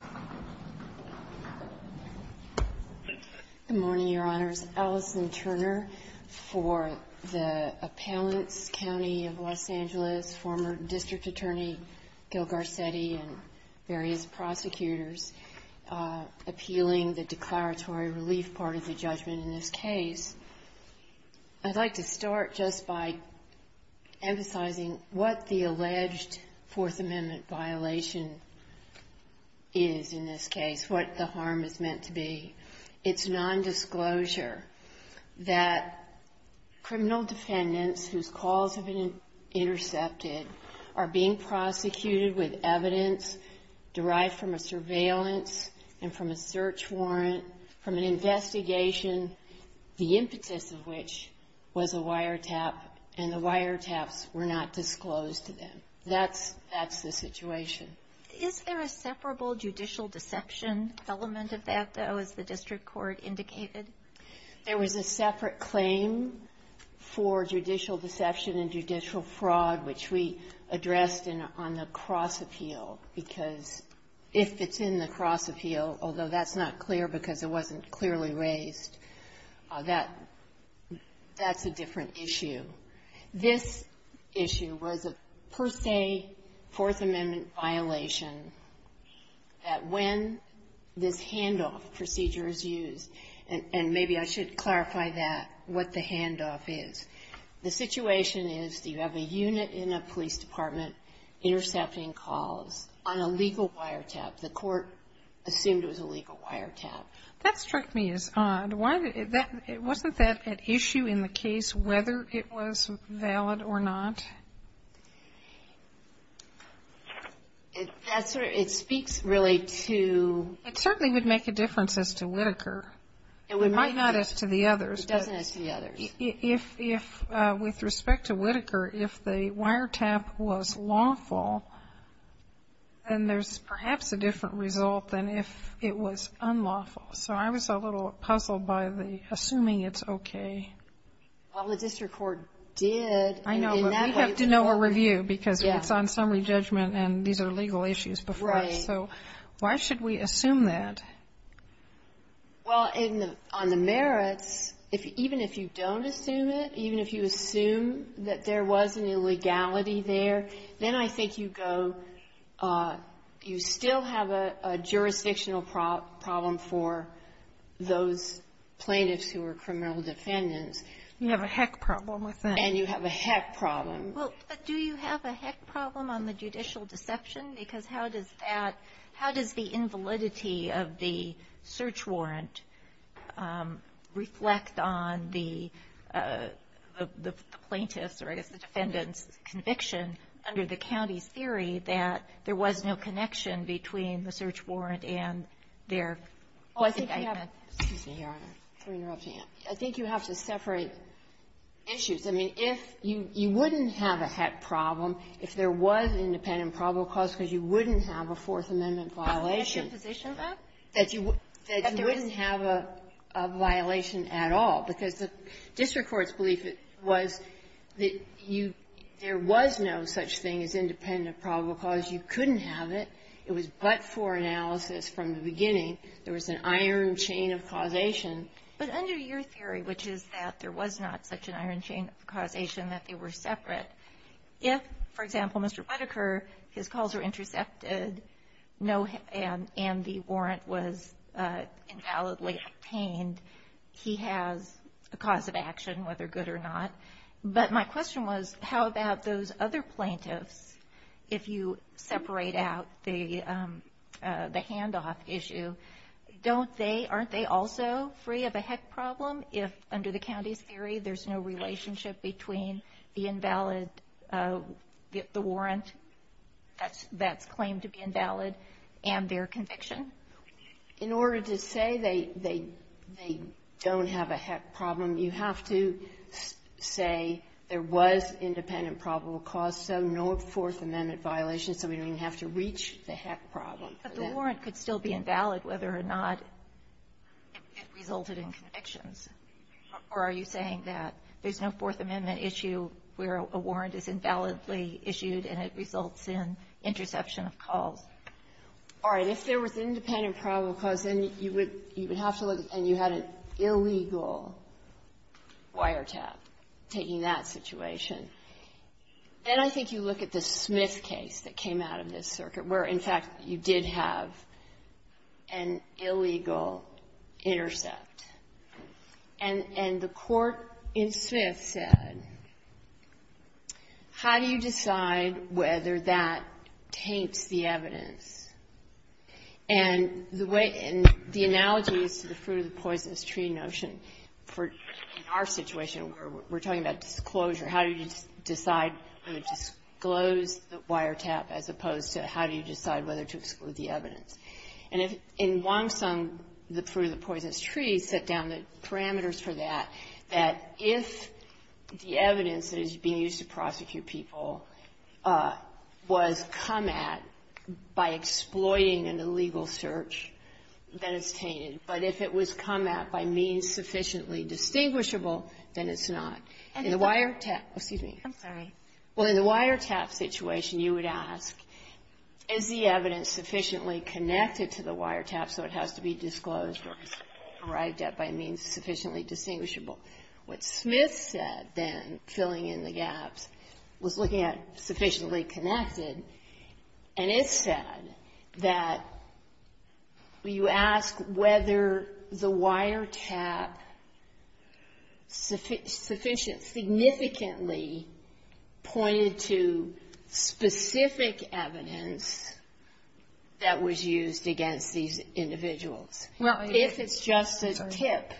Good morning, Your Honors. Alison Turner for the Appellants County of Los Angeles, former District Attorney Gil Garcetti and various prosecutors appealing the declaratory relief part of the judgment in this case. I'd like to start just by emphasizing what the alleged Fourth Amendment violation is in this case, what the harm is meant to be. It's nondisclosure that criminal defendants whose calls have been intercepted are being prosecuted with evidence derived from a surveillance and from a search warrant, from an investigation, the impetus of which was a wiretap, and the wiretaps were not disclosed to them. That's the situation. Is there a separable judicial deception element of that, though, as the district court indicated? There was a separate claim for judicial deception and judicial fraud, which we addressed on the cross-appeal, because if it's in the cross-appeal, although that's not clear because it wasn't clearly raised, that's a different issue. This issue was a per se Fourth Amendment violation that when this handoff procedure is used, and maybe I should clarify that, what the handoff is, the situation is that you have a unit in a police department intercepting calls on a legal wiretap. The court assumed it was a legal wiretap. That struck me as odd. Wasn't that an issue in the case, whether it was valid or not? It speaks really to It certainly would make a difference as to Whitaker. It might not as to the others. It doesn't as to the others. If, with respect to Whitaker, if the wiretap was lawful, then there's perhaps a different result than if it was unlawful. So I was a little puzzled by the assuming it's okay. Well, the district court did. I know, but we'd have to know a review because it's on summary judgment and these are legal issues before us. So why should we assume that? Well, on the merits, even if you don't assume it, even if you assume that there was an illegality there, then I think you go, you still have a jurisdictional problem for those plaintiffs who are criminal defendants. You have a heck problem with that. And you have a heck problem. Well, but do you have a heck problem on the judicial deception? Because how does that — how does the invalidity of the search warrant reflect on the plaintiffs' or, I guess, the defendants' conviction under the county's theory that there was no connection between the search warrant and their quasi-dictment? I think you have to separate issues. I mean, if you — you wouldn't have a heck problem if there was independent probable cause because you wouldn't have a Fourth Amendment violation. Is that your position, though? That you — that you wouldn't have a violation at all. Because the district court's belief was that you — there was no such thing as independent probable cause. You couldn't have it. It was but-for analysis from the beginning. There was an iron chain of causation. But under your theory, which is that there was not such an iron chain of causation, that they were separate. If, for example, Mr. Whittaker, his calls were intercepted, no — and the warrant was invalidly obtained, he has a cause of action, whether good or not. But my question was, how about those other plaintiffs? If you separate out the — the handoff issue, don't they — aren't they also free of a heck problem if, under the county's theory, there's no relationship between the invalid — the warrant that's — that's claimed to be invalid and their conviction? In order to say they — they don't have a heck problem, you have to say there was independent probable cause, so no Fourth Amendment violation. So we don't even have to reach the heck problem. But the warrant could still be invalid whether or not it resulted in convictions. Or are you saying that there's no Fourth Amendment issue? Where a warrant is invalidly issued, and it results in interception of calls? All right. If there was independent probable cause, then you would — you would have to look — and you had an illegal wiretap taking that situation. Then I think you look at the Smith case that came out of this circuit, where, in fact, you did have an illegal intercept. And — and the court in Smith said, how do you decide whether that taints the evidence? And the way — and the analogy is to the fruit-of-the-poisonous-tree notion for — in our situation, we're talking about disclosure. How do you decide to disclose the wiretap as opposed to how do you decide whether to exclude the evidence? And if — in Wong Sung, the fruit-of-the-poisonous-tree, set down the parameters for that, that if the evidence that is being used to prosecute people was come at by exploiting an illegal search, then it's tainted. But if it was come at by means sufficiently distinguishable, then it's not. In the wiretap — excuse me. I'm sorry. Well, in the wiretap situation, you would ask, is the evidence sufficiently connected to the wiretap so it has to be disclosed or arrived at by means sufficiently distinguishable? What Smith said then, filling in the gaps, was looking at sufficiently connected. And it's said that you ask whether the wiretap sufficiently — significantly pointed to specific evidence that was used against these individuals. If it's just a tip,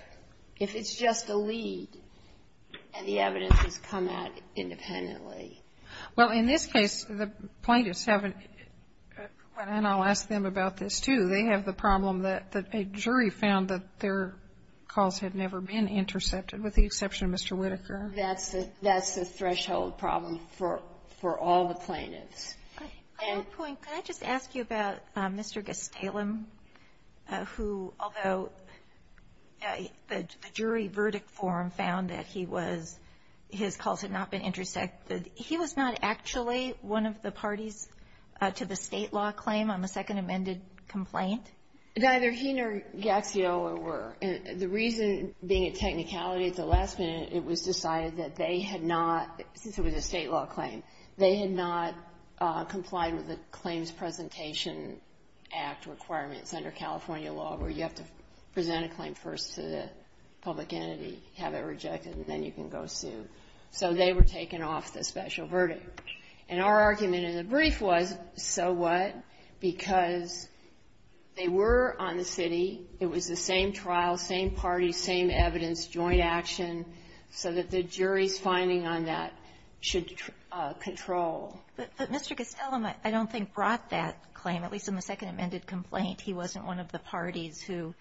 if it's just a lead, and the evidence is come at independently. Well, in this case, the plaintiffs have — and I'll ask them about this, too. They have the problem that a jury found that their calls had never been intercepted, with the exception of Mr. Whittaker. That's the — that's the threshold problem for — for all the plaintiffs. I have a point. Could I just ask you about Mr. Gestalem, who, although the jury verdict form found that he was — his calls had not been intercepted, he was not actually one of the parties to the state law claim on the second amended complaint? Neither he nor Gaxiola were. The reason, being a technicality at the last minute, it was decided that they had not — since it was a state law claim, they had not complied with the Claims Presentation Act requirements under California law, where you have to present a claim first to the public entity, have it rejected, and then you can go sue. So they were taken off the special verdict. And our argument in the brief was, so what, because they were on the city. It was the same trial, same party, same evidence, joint action, so that the jury's finding on that should control. But Mr. Gestalem, I don't think, brought that claim, at least in the second amended complaint. He wasn't one of the parties who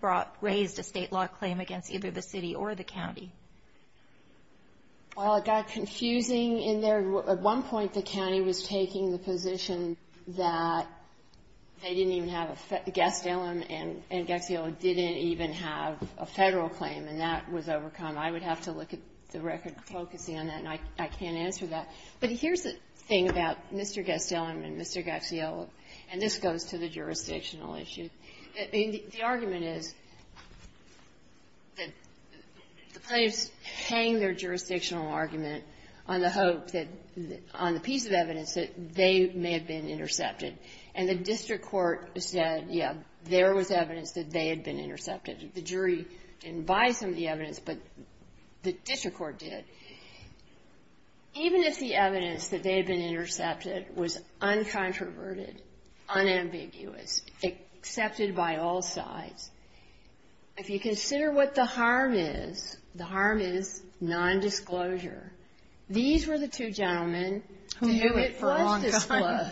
brought — raised a state law claim against either the city or the county. Well, it got confusing in there. At one point, the county was taking the position that they didn't even have a — Gestalem and Gaxiola didn't even have a Federal claim, and that was overcome. I would have to look at the record focusing on that, and I can't answer that. But here's the thing about Mr. Gestalem and Mr. Gaxiola, and this goes to the jurisdictional issue, that the argument is that the plaintiffs hang their jurisdictional argument on the hope that — on the piece of evidence that they may have been intercepted. And the district court said, yeah, there was evidence that they had been intercepted. The jury didn't buy some of the evidence, but the district court did. Even if the evidence that they had been intercepted was uncontroverted, unambiguous, accepted by all sides, if you consider what the harm is, the harm is nondisclosure. These were the two gentlemen who knew it for a long time.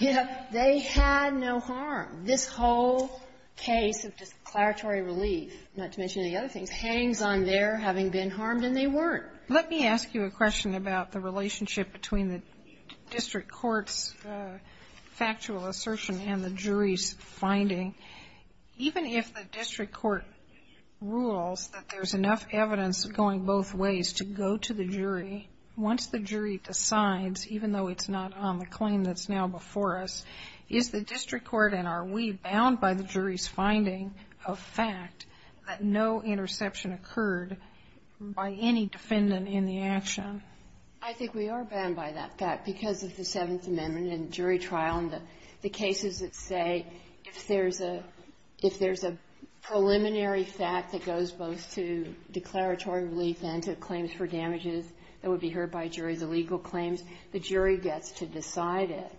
They had no harm. This whole case of declaratory relief, not to mention the other things, hangs on their having been harmed, and they weren't. Let me ask you a question about the relationship between the district court's factual assertion and the jury's finding. Even if the district court rules that there's enough evidence going both ways to go to the jury, once the jury decides, even though it's not on the claim that's now before us, is the district court and are we bound by the jury's finding of fact that no interception occurred by any defendant in the action? I think we are bound by that fact because of the Seventh Amendment and jury trial and the cases that say if there's a preliminary fact that goes both to declaratory relief and to claims for damages that would be heard by jury, the legal claims, the jury gets to decide it.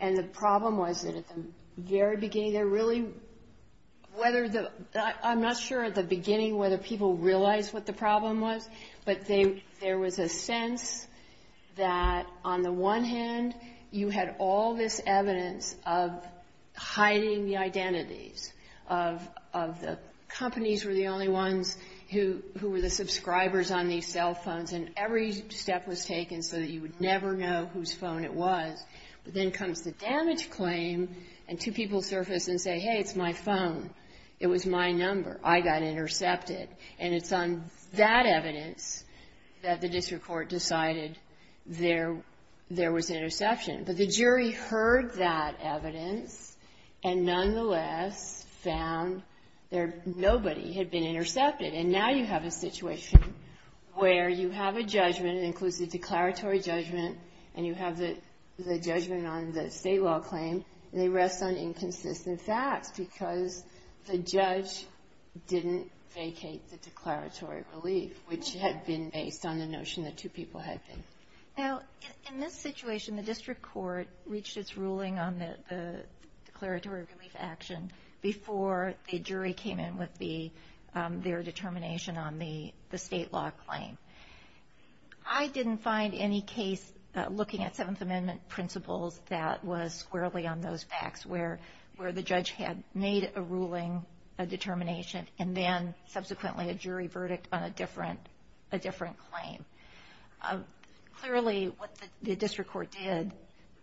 And the problem was that at the very beginning, they're really whether the – I'm not sure at the beginning whether people realized what the problem was, but there was a sense that on the one hand, you had all this evidence of hiding the identities of the – companies were the only ones who were the subscribers on these cell phones and every step was taken so that you would never know whose phone it was. But then comes the damage claim and two people surface and say, hey, it's my phone. It was my number. I got intercepted. And it's on that evidence that the district court decided there was interception. But the jury heard that evidence and nonetheless found there – nobody had been intercepted. And now you have a situation where you have a judgment, it includes the declaratory judgment, and you have the judgment on the state law claim, and they rest on the fact that the judge didn't vacate the declaratory relief, which had been based on the notion that two people had been. Now, in this situation, the district court reached its ruling on the declaratory relief action before the jury came in with the – their determination on the state law claim. I didn't find any case looking at Seventh Amendment principles that was squarely on those facts where the judge had made a ruling, a determination, and then subsequently a jury verdict on a different claim. Clearly, what the district court did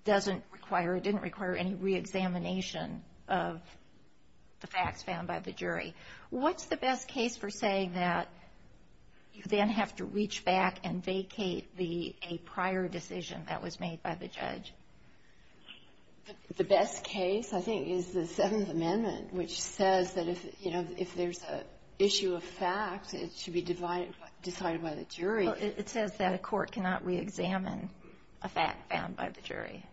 doesn't require – didn't require any reexamination of the facts found by the jury. What's the best case for saying that you then have to reach back and vacate the – a prior decision that was made by the judge? The best case, I think, is the Seventh Amendment, which says that if, you know, if there's an issue of fact, it should be decided by the jury. Well, it says that a court cannot reexamine a fact found by the jury.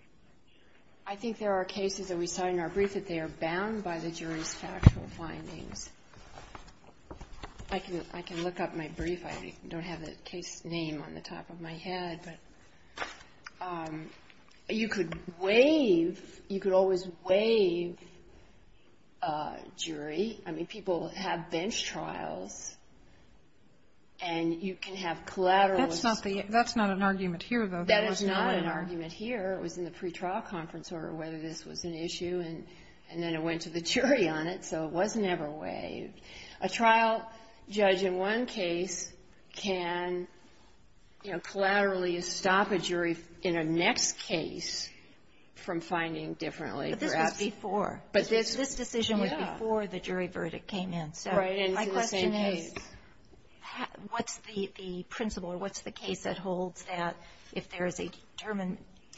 I think there are cases that we saw in our brief that they are bound by the jury's factual findings. I can look up my brief. I don't have the case name on the top of my head. But you could waive – you could always waive a jury. I mean, people have bench trials, and you can have collateral – That's not the – that's not an argument here, though. There was no argument. That is not an argument here. It was in the pretrial conference order whether this was an issue, and then it went to the jury on it. So it was never waived. A trial judge in one case can, you know, collaterally stop a jury in a next case from finding differently. Perhaps – But this was before. But this – This decision was before the jury verdict came in. Right. And it's the same case. So my question is, what's the principle or what's the case that holds that if there is a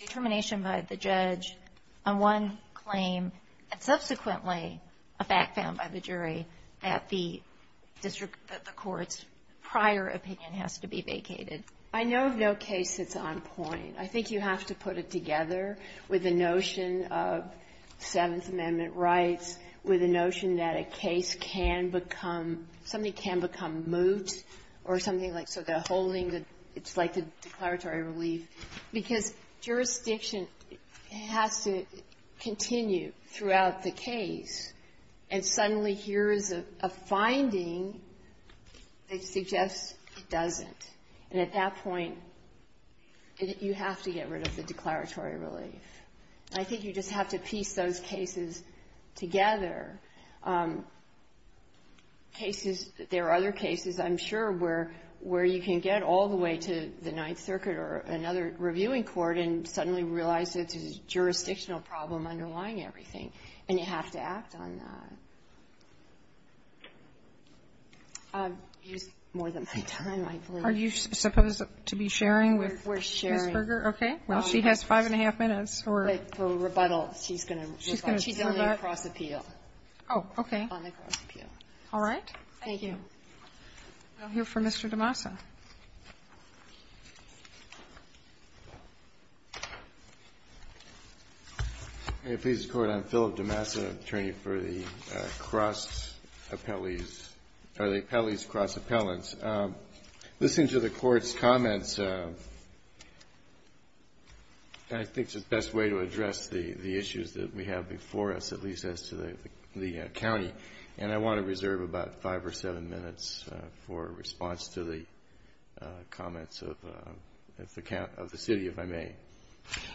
determination by the judge on one claim and subsequently a fact found by the jury that the district – that the court's prior opinion has to be vacated? I know of no case that's on point. I think you have to put it together with the notion of Seventh Amendment rights, with the notion that a case can become – something can become moot or something like – so the whole thing, it's like the declaratory relief. Because jurisdiction has to continue throughout the case, and suddenly here is a finding that suggests it doesn't. And at that point, you have to get rid of the declaratory relief. I think you just have to piece those cases together. Cases – there are other cases, I'm sure, where you can get all the way to the Ninth Circuit, and you're reviewing court, and suddenly realize it's a jurisdictional problem underlying everything, and you have to act on that. I've used more than my time, I believe. Are you supposed to be sharing with Ms. Berger? We're sharing. Okay. Well, she has five and a half minutes for – For rebuttal. She's going to rebut. She's going to rebut. She's on the cross-appeal. Oh, okay. On the cross-appeal. All right. Thank you. I'll hear from Mr. DeMassa. Please, Court. I'm Philip DeMassa, attorney for the cross-appellees – or the appellees cross-appellants. Listening to the Court's comments, I think it's the best way to address the issues that we have before us, at least as to the county, and I want to reserve about five or seven minutes for response to the comments of the city, if I may.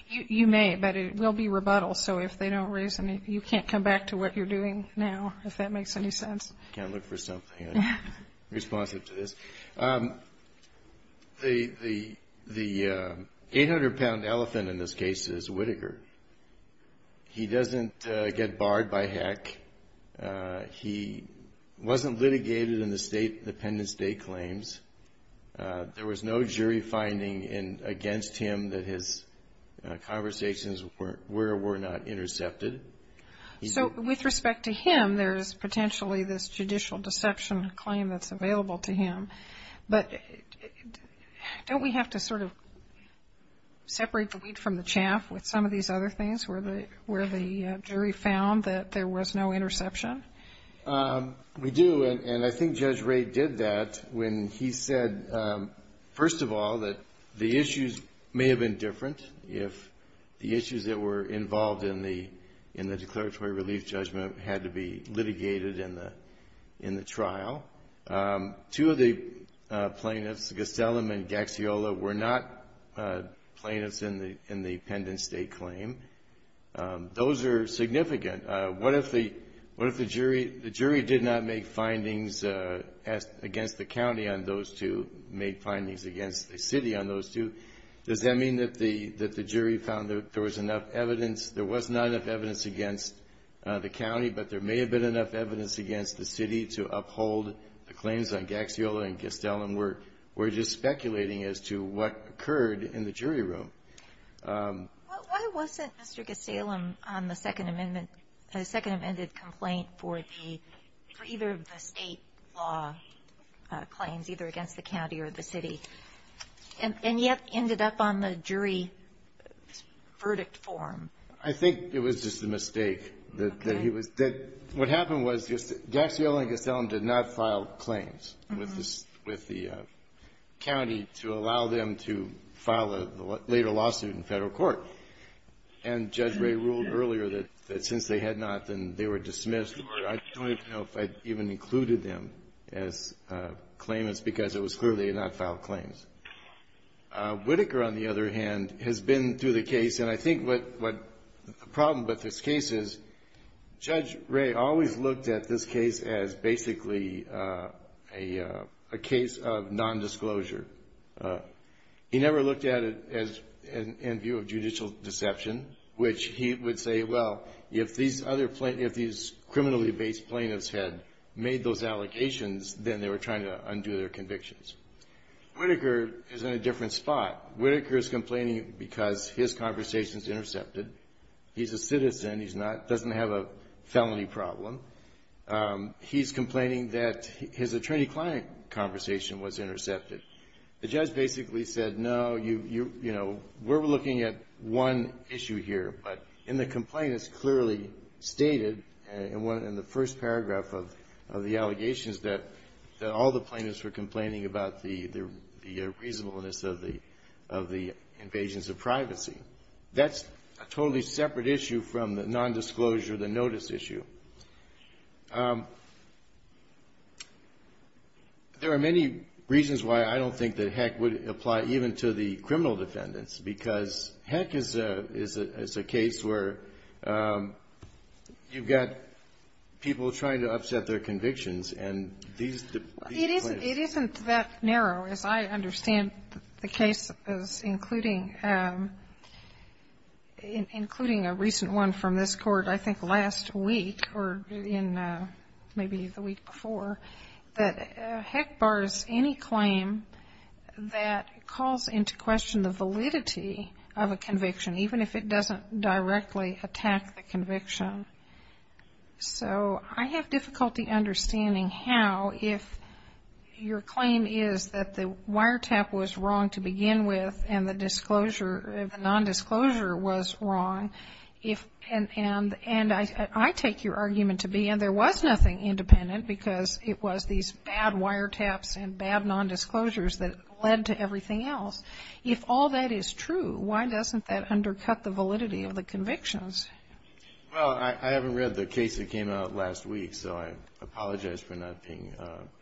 You may, but it will be rebuttal, so if they don't raise any – you can't come back to what you're doing now, if that makes any sense. I can't look for something responsive to this. The 800-pound elephant in this case is Whittaker. He doesn't get barred by heck. He wasn't litigated in the State Independence Day claims. There was no jury finding against him that his conversations were or were not intercepted. So with respect to him, there's potentially this judicial deception claim that's available to him, but don't we have to sort of separate the wheat from the chaff with some of these other things, where the jury found that there was no interception? We do, and I think Judge Wray did that when he said, first of all, that the issues may have been different if the issues that were involved in the declaratory relief judgment had to be litigated in the trial. Two of the plaintiffs, Gastelum and Gaxiola, were not plaintiffs in the Independence Day claim. Those are significant. What if the jury did not make findings against the county on those two, made findings against the city on those two? Does that mean that the jury found that there was enough evidence? There was not enough evidence against the county, but there may have been enough evidence against the city to uphold the claims on Gaxiola and Gastelum. We're just speculating as to what occurred in the jury room. Why wasn't Mr. Gastelum on the Second Amendment complaint for either of the state law claims, either against the county or the city, and yet ended up on the jury's verdict form? I think it was just a mistake. Okay. What happened was just that Gaxiola and Gastelum did not file claims with the county to allow them to file a later lawsuit in Federal court, and Judge Wray ruled earlier that since they had not, then they were dismissed. I don't even know if I even included them as claimants because it was clear they had not filed claims. Whitaker, on the other hand, has been through the case, and I think the problem with this case is Judge Wray always looked at this case as basically a case of nondisclosure. He never looked at it in view of judicial deception, which he would say, well, if these criminally based plaintiffs had made those allegations, then they were trying to undo their convictions. Whitaker is in a different spot. Whitaker is complaining because his conversation is intercepted. He's a citizen. He doesn't have a felony problem. He's complaining that his attorney-client conversation was intercepted. The judge basically said, no, we're looking at one issue here, but in the complaint it's clearly stated in the first paragraph of the allegations that all the plaintiffs were complaining about the reasonableness of the invasions of privacy. That's a totally separate issue from the nondisclosure, the notice issue. There are many reasons why I don't think that Heck would apply even to the criminal defendants because Heck is a case where you've got people trying to upset their convictions and these plaintiffs. It isn't that narrow, as I understand the cases, including a recent one from this court I think last week or in maybe the week before, that Heck bars any claim that calls into question the validity of a conviction, even if it doesn't directly attack the conviction. So I have difficulty understanding how, if your claim is that the wiretap was wrong to begin with and the nondisclosure was wrong, and I take your argument to be, and there was nothing independent because it was these bad wiretaps and bad nondisclosures that led to everything else. If all that is true, why doesn't that undercut the validity of the convictions? Well, I haven't read the case that came out last week, so I apologize for not being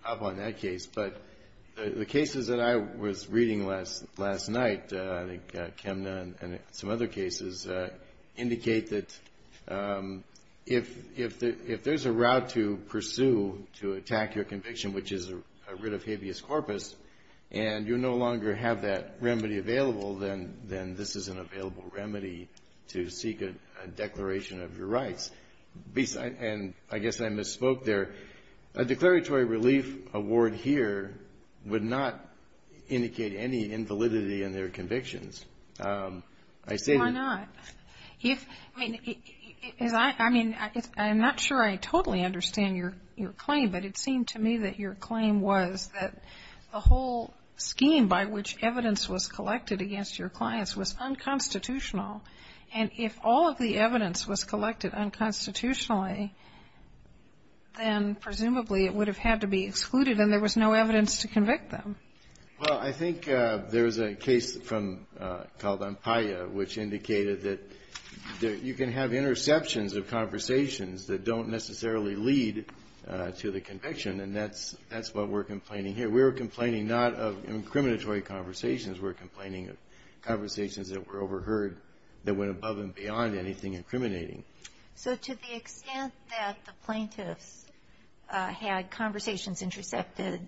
up on that case. But the cases that I was reading last night, I think Kemna and some other cases, indicate that if there's a route to pursue to attack your conviction, which is a writ of habeas corpus, and you no longer have that remedy available, then this is an available remedy to seek a declaration of your rights. And I guess I misspoke there. A declaratory relief award here would not indicate any invalidity in their convictions. Why not? I mean, I'm not sure I totally understand your claim, but it seemed to me that your claim was that the whole scheme by which evidence was collected against your clients was unconstitutional. And if all of the evidence was collected unconstitutionally, then presumably it would have had to be excluded and there was no evidence to convict them. Well, I think there's a case called Ampaia, which indicated that you can have interceptions of conversations that don't necessarily lead to the conviction, and that's what we're complaining here. We're complaining not of incriminatory conversations. We're complaining of conversations that were overheard that went above and beyond anything incriminating. So to the extent that the plaintiffs had conversations intercepted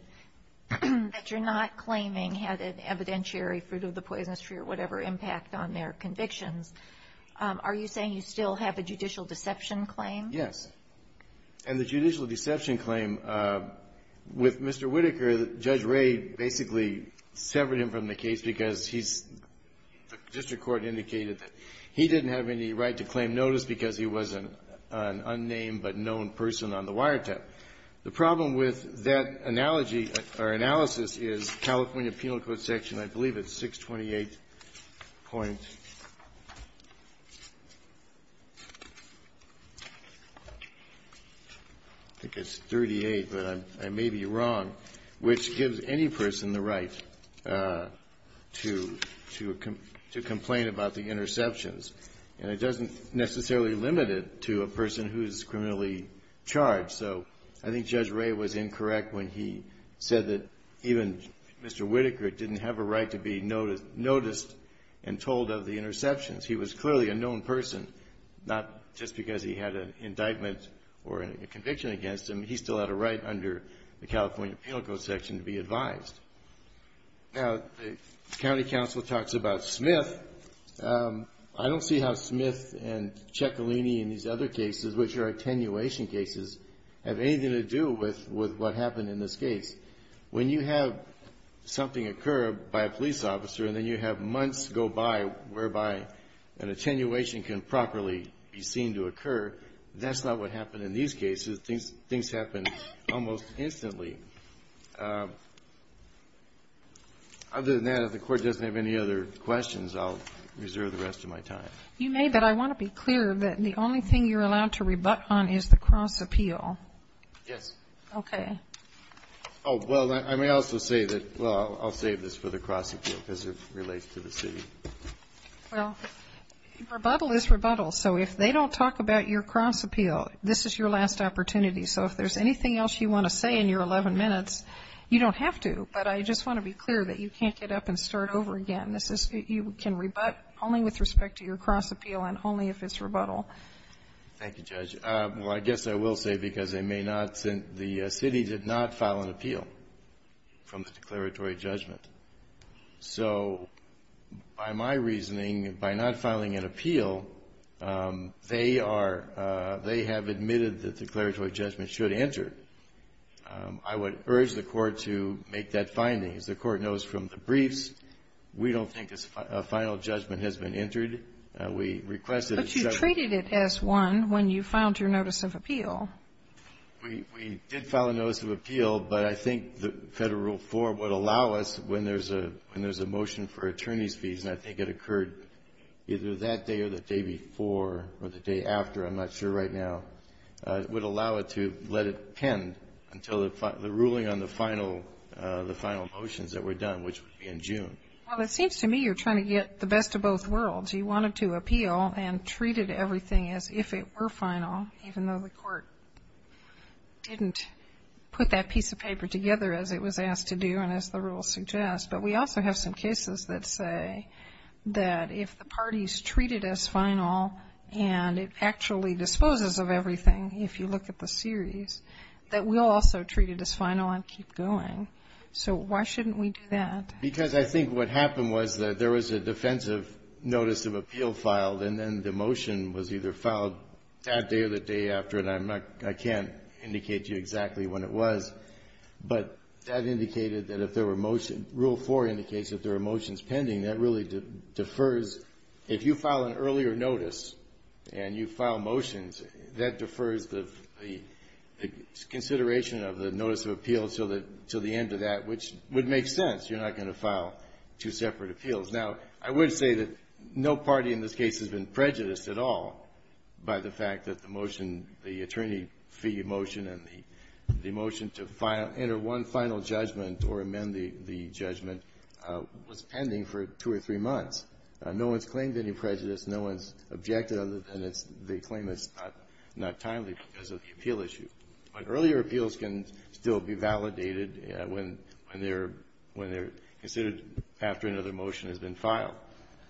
that you're not claiming had an evidentiary fruit of the poisonous tree or whatever impact on their convictions, are you saying you still have a judicial deception claim? Yes. And the judicial deception claim with Mr. Whitaker, Judge Ray basically severed him from the case because he's the district court indicated that he didn't have any right to claim notice because he was an unnamed but known person on the wiretap. The problem with that analogy or analysis is California Penal Code section, I believe it's 628. I think it's 38, but I may be wrong, which gives any person the right to complain about the interceptions. And it doesn't necessarily limit it to a person who is criminally charged. So I think Judge Ray was incorrect when he said that even Mr. Whitaker didn't have a right to be noticed and told of the interceptions. He was clearly a known person, not just because he had an indictment or a conviction against him. He still had a right under the California Penal Code section to be advised. Now, the county counsel talks about Smith. I don't see how Smith and Ciccolini and these other cases, which are attenuation cases, have anything to do with what happened in this case. When you have something occur by a police officer and then you have months go by whereby an attenuation can properly be seen to occur, that's not what happened in these cases. Things happened almost instantly. Other than that, if the Court doesn't have any other questions, I'll reserve the rest of my time. You may, but I want to be clear that the only thing you're allowed to rebut on is the cross appeal. Yes. Okay. Oh, well, I may also say that, well, I'll save this for the cross appeal because it relates to the city. Well, rebuttal is rebuttal. So if they don't talk about your cross appeal, this is your last opportunity. So if there's anything else you want to say in your 11 minutes, you don't have to. But I just want to be clear that you can't get up and start over again. This is you can rebut only with respect to your cross appeal and only if it's rebuttal. Thank you, Judge. Well, I guess I will say, because they may not, the city did not file an appeal from the declaratory judgment. So by my reasoning, by not filing an appeal, they are they have admitted that declaratory judgment should enter. I would urge the Court to make that finding. As the Court knows from the briefs, we don't think a final judgment has been entered. We request that it should. But you treated it as one when you filed your notice of appeal. We did file a notice of appeal. But I think the Federal Rule 4 would allow us, when there's a motion for attorney's fees, and I think it occurred either that day or the day before or the day after, I'm not sure right now, would allow it to let it pen until the ruling on the final motions that were done, which would be in June. Well, it seems to me you're trying to get the best of both worlds. I think the Federal Rule 4, as it was in the methodology, wanted to appeal and treated everything as if it were final, even though the Court didn't put that piece of paper together as it was asked to do and as the rule suggests. But we also have some cases that say that if the parties treated as final and it actually disposes of everything, if you look at the series, that we'll also treat it as final and keep going. So why shouldn't we do that? Because I think what happened was that there was a defensive notice of appeal filed, and then the motion was either filed that day or the day after. And I can't indicate to you exactly when it was. But that indicated that if there were motion rule 4 indicates that there are motions pending, that really defers. If you file an earlier notice and you file motions, that defers the consideration of the notice of appeal until the end of that, which would make sense. You're not going to file two separate appeals. Now, I would say that no party in this case has been prejudiced at all by the fact that the motion, the attorney fee motion and the motion to enter one final judgment or amend the judgment was pending for two or three months. No one's claimed any prejudice. No one's objected other than it's they claim it's not timely because of the appeal issue. But earlier appeals can still be validated when they're considered after another motion has been filed.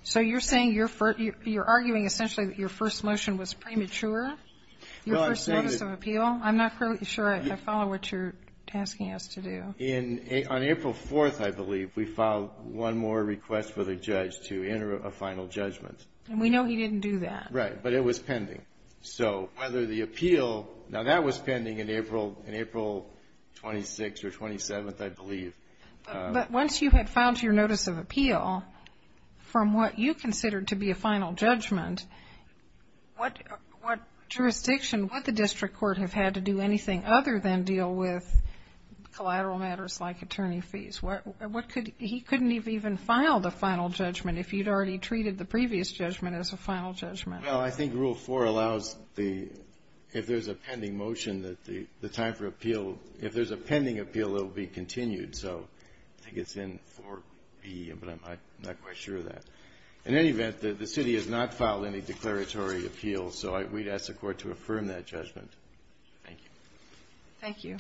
So you're saying you're arguing essentially that your first motion was premature, your first notice of appeal? I'm not sure I follow what you're asking us to do. On April 4th, I believe, we filed one more request for the judge to enter a final judgment. And we know he didn't do that. Right. But it was pending. So whether the appeal, now that was pending in April 26th or 27th, I believe. But once you had filed your notice of appeal, from what you considered to be a final judgment, what jurisdiction, what the district court have had to do anything other than deal with collateral matters like attorney fees? What could he couldn't have even filed a final judgment if you'd already treated the previous judgment as a final judgment? Well, I think Rule 4 allows the, if there's a pending motion that the time for appeal, if there's a pending appeal, it will be continued. So I think it's in 4B, but I'm not quite sure of that. In any event, the city has not filed any declaratory appeals. So we'd ask the Court to affirm that judgment. Thank you. Thank you.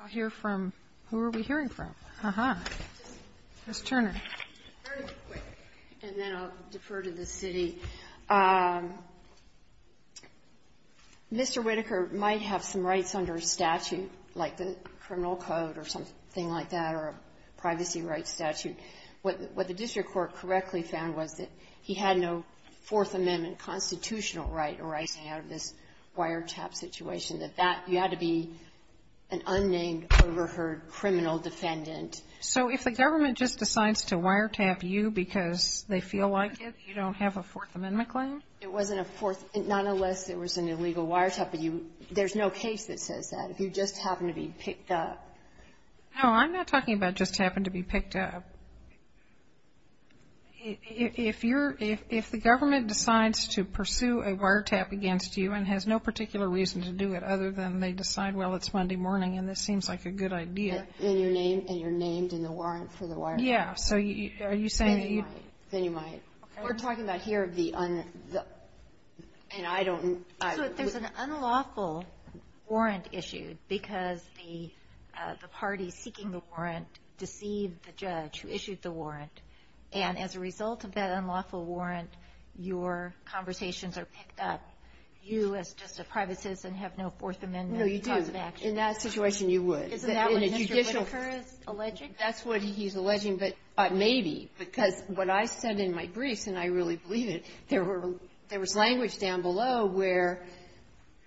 I'll hear from, who are we hearing from? Uh-huh. Ms. Turner. Very quick, and then I'll defer to the city. Mr. Whitaker might have some rights under statute, like the criminal code or something like that, or a privacy rights statute. What the district court correctly found was that he had no Fourth Amendment constitutional right arising out of this wiretap situation, that that, you had to be an unnamed, overheard criminal defendant. So if the government just decides to wiretap you because they feel like it, you don't have a Fourth Amendment claim? It wasn't a Fourth, not unless there was an illegal wiretap, but you, there's no case that says that. If you just happen to be picked up. No, I'm not talking about just happen to be picked up. If you're, if the government decides to pursue a wiretap against you and has no particular reason to do it other than they decide, well, it's Monday morning and this seems like a good idea. And you're named in the warrant for the wiretap. Yeah. So are you saying that you. Then you might. Then you might. We're talking about here the, and I don't. There's an unlawful warrant issued because the party seeking the warrant deceived the judge who issued the warrant. And as a result of that unlawful warrant, your conversations are picked up. You, as just a private citizen, have no Fourth Amendment. No, you do. In that situation, you would. Isn't that what Mr. Whitaker is alleging? That's what he's alleging, but maybe, because what I said in my briefs, and I really believe it, there were, there was language down below where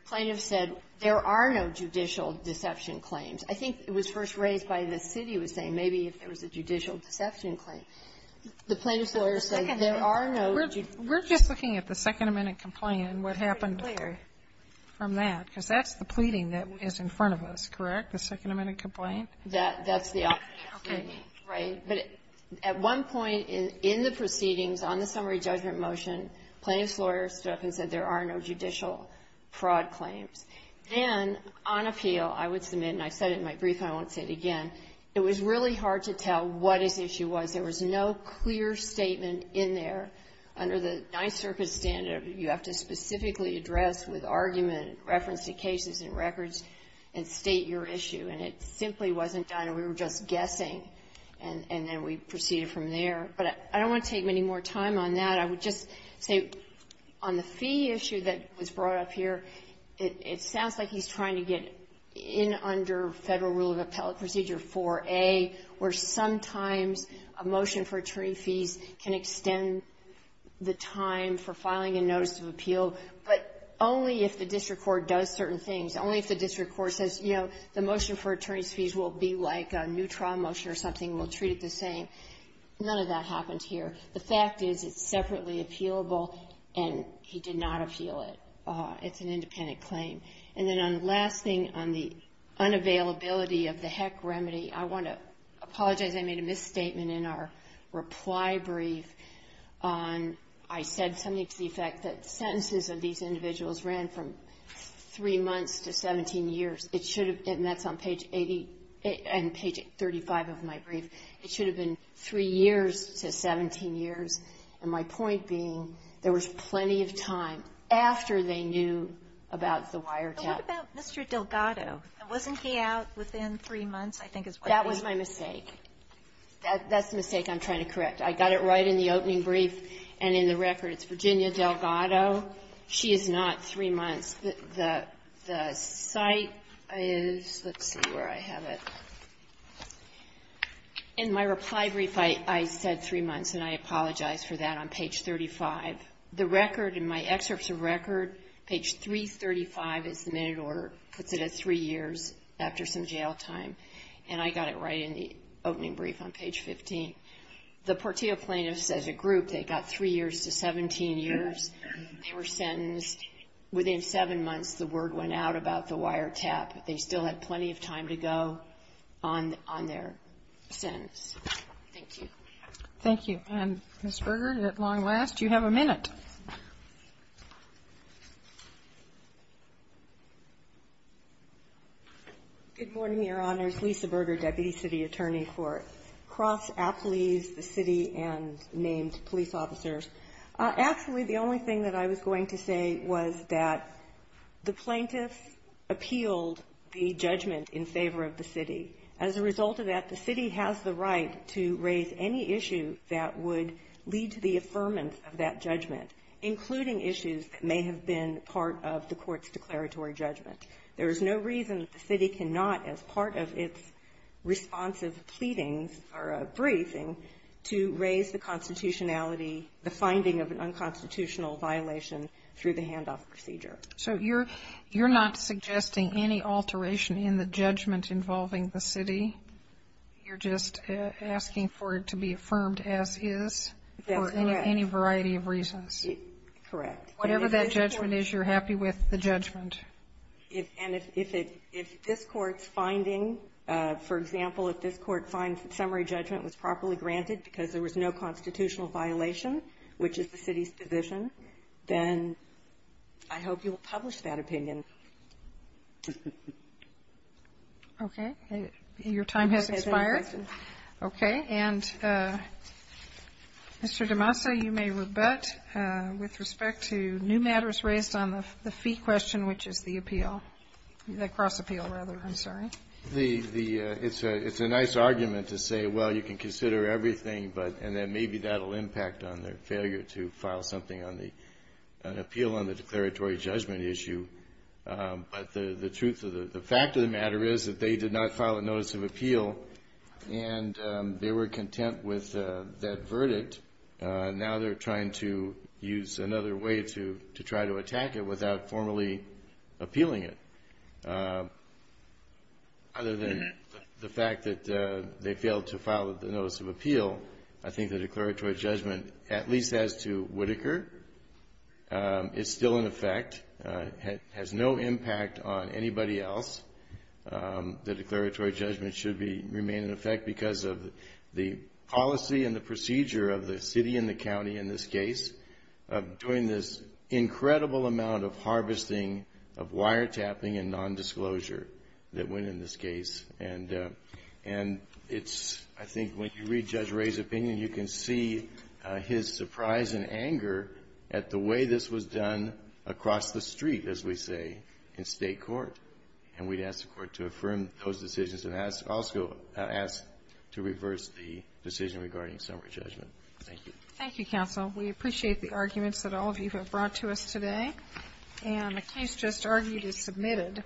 plaintiffs said there are no judicial deception claims. I think it was first raised by the city was saying maybe if there was a judicial deception claim. The plaintiff's lawyer said there are no. We're just looking at the Second Amendment complaint and what happened there from that, because that's the pleading that is in front of us, correct, the Second Amendment complaint? That's the. Okay. Right. But at one point in the proceedings on the summary judgment motion, plaintiff's lawyer stood up and said there are no judicial fraud claims. And on appeal, I would submit, and I said it in my brief and I won't say it again, it was really hard to tell what his issue was. There was no clear statement in there. Under the Ninth Circuit standard, you have to specifically address with argument, reference to cases and records, and state your issue. And it simply wasn't done. We were just guessing, and then we proceeded from there. But I don't want to take many more time on that. I would just say on the fee issue that was brought up here, it sounds like he's trying to get in under Federal Rule of Appellate Procedure 4A, where sometimes a motion for attorney fees can extend the time for filing a notice of appeal, but only if the district court does certain things, only if the district court says, you know, the motion for attorney's fees will be like a new trial motion or something. We'll treat it the same. None of that happens here. The fact is it's separately appealable, and he did not appeal it. It's an independent claim. And then on the last thing, on the unavailability of the heck remedy, I want to apologize. I made a misstatement in our reply brief. I said something to the effect that sentences of these individuals ran from three months to 17 years. It should have been, and that's on page 80 and page 35 of my brief, it should have been three years to 17 years. And my point being there was plenty of time after they knew about the wiretap. But what about Mr. Delgado? Wasn't he out within three months, I think is what they said. That was my mistake. That's the mistake I'm trying to correct. I got it right in the opening brief and in the record. It's Virginia Delgado. She is not three months. The site is, let's see where I have it. In my reply brief, I said three months, and I apologize for that on page 35. The record in my excerpts of record, page 335 is the minute order. It puts it at three years after some jail time. And I got it right in the opening brief on page 15. The Portillo plaintiffs, as a group, they got three years to 17 years. They were sentenced within seven months. The word went out about the wiretap. They still had plenty of time to go on their sentence. Thank you. Thank you. And, Ms. Berger, at long last, you have a minute. Good morning, Your Honors. Lisa Berger, Deputy City Attorney for Cross Athletics. My name is Lisa Berger. And I'm here to speak on behalf of the city, the city police, the city and named police officers. Actually, the only thing that I was going to say was that the plaintiffs appealed the judgment in favor of the city. As a result of that, the city has the right to raise any issue that would lead to the affirmance of that judgment, including issues that may have been part of the court's declaratory judgment. There is no reason that the city cannot, as part of its responsive pleadings or a briefing, to raise the constitutionality, the finding of an unconstitutional violation through the handoff procedure. So you're not suggesting any alteration in the judgment involving the city? You're just asking for it to be affirmed as is? That's correct. For any variety of reasons? Correct. Whatever that judgment is, you're happy with the judgment? And if this court's finding, for example, if this court finds that summary judgment was properly granted because there was no constitutional violation, which is the city's position, then I hope you will publish that opinion. Okay. Your time has expired. Okay. And, Mr. DeMassa, you may rebut with respect to new matters raised on the fee question, which is the appeal, the cross-appeal, rather. I'm sorry. It's a nice argument to say, well, you can consider everything, and maybe that will impact on their failure to file something on the appeal on the declaratory judgment issue. But the truth of the fact of the matter is that they did not file a notice of appeal, and they were content with that verdict. Now they're trying to use another way to try to attack it without formally appealing it. Other than the fact that they failed to file the notice of appeal, I think the declaratory judgment, at least as to Whitaker, is still in effect, has no impact on anybody else. The declaratory judgment should remain in effect because of the policy and the procedure of the city and the county in this case of doing this incredible amount of harvesting of wiretapping and nondisclosure that went in this case. And it's, I think, when you read Judge Ray's opinion, you can see his surprise and anger at the way this was done across the street, as we say, in state court. And we'd ask the Court to affirm those decisions and also ask to reverse the decision regarding summary judgment. Thank you. Thank you, counsel. We appreciate the arguments that all of you have brought to us today. And the case just argued is submitted.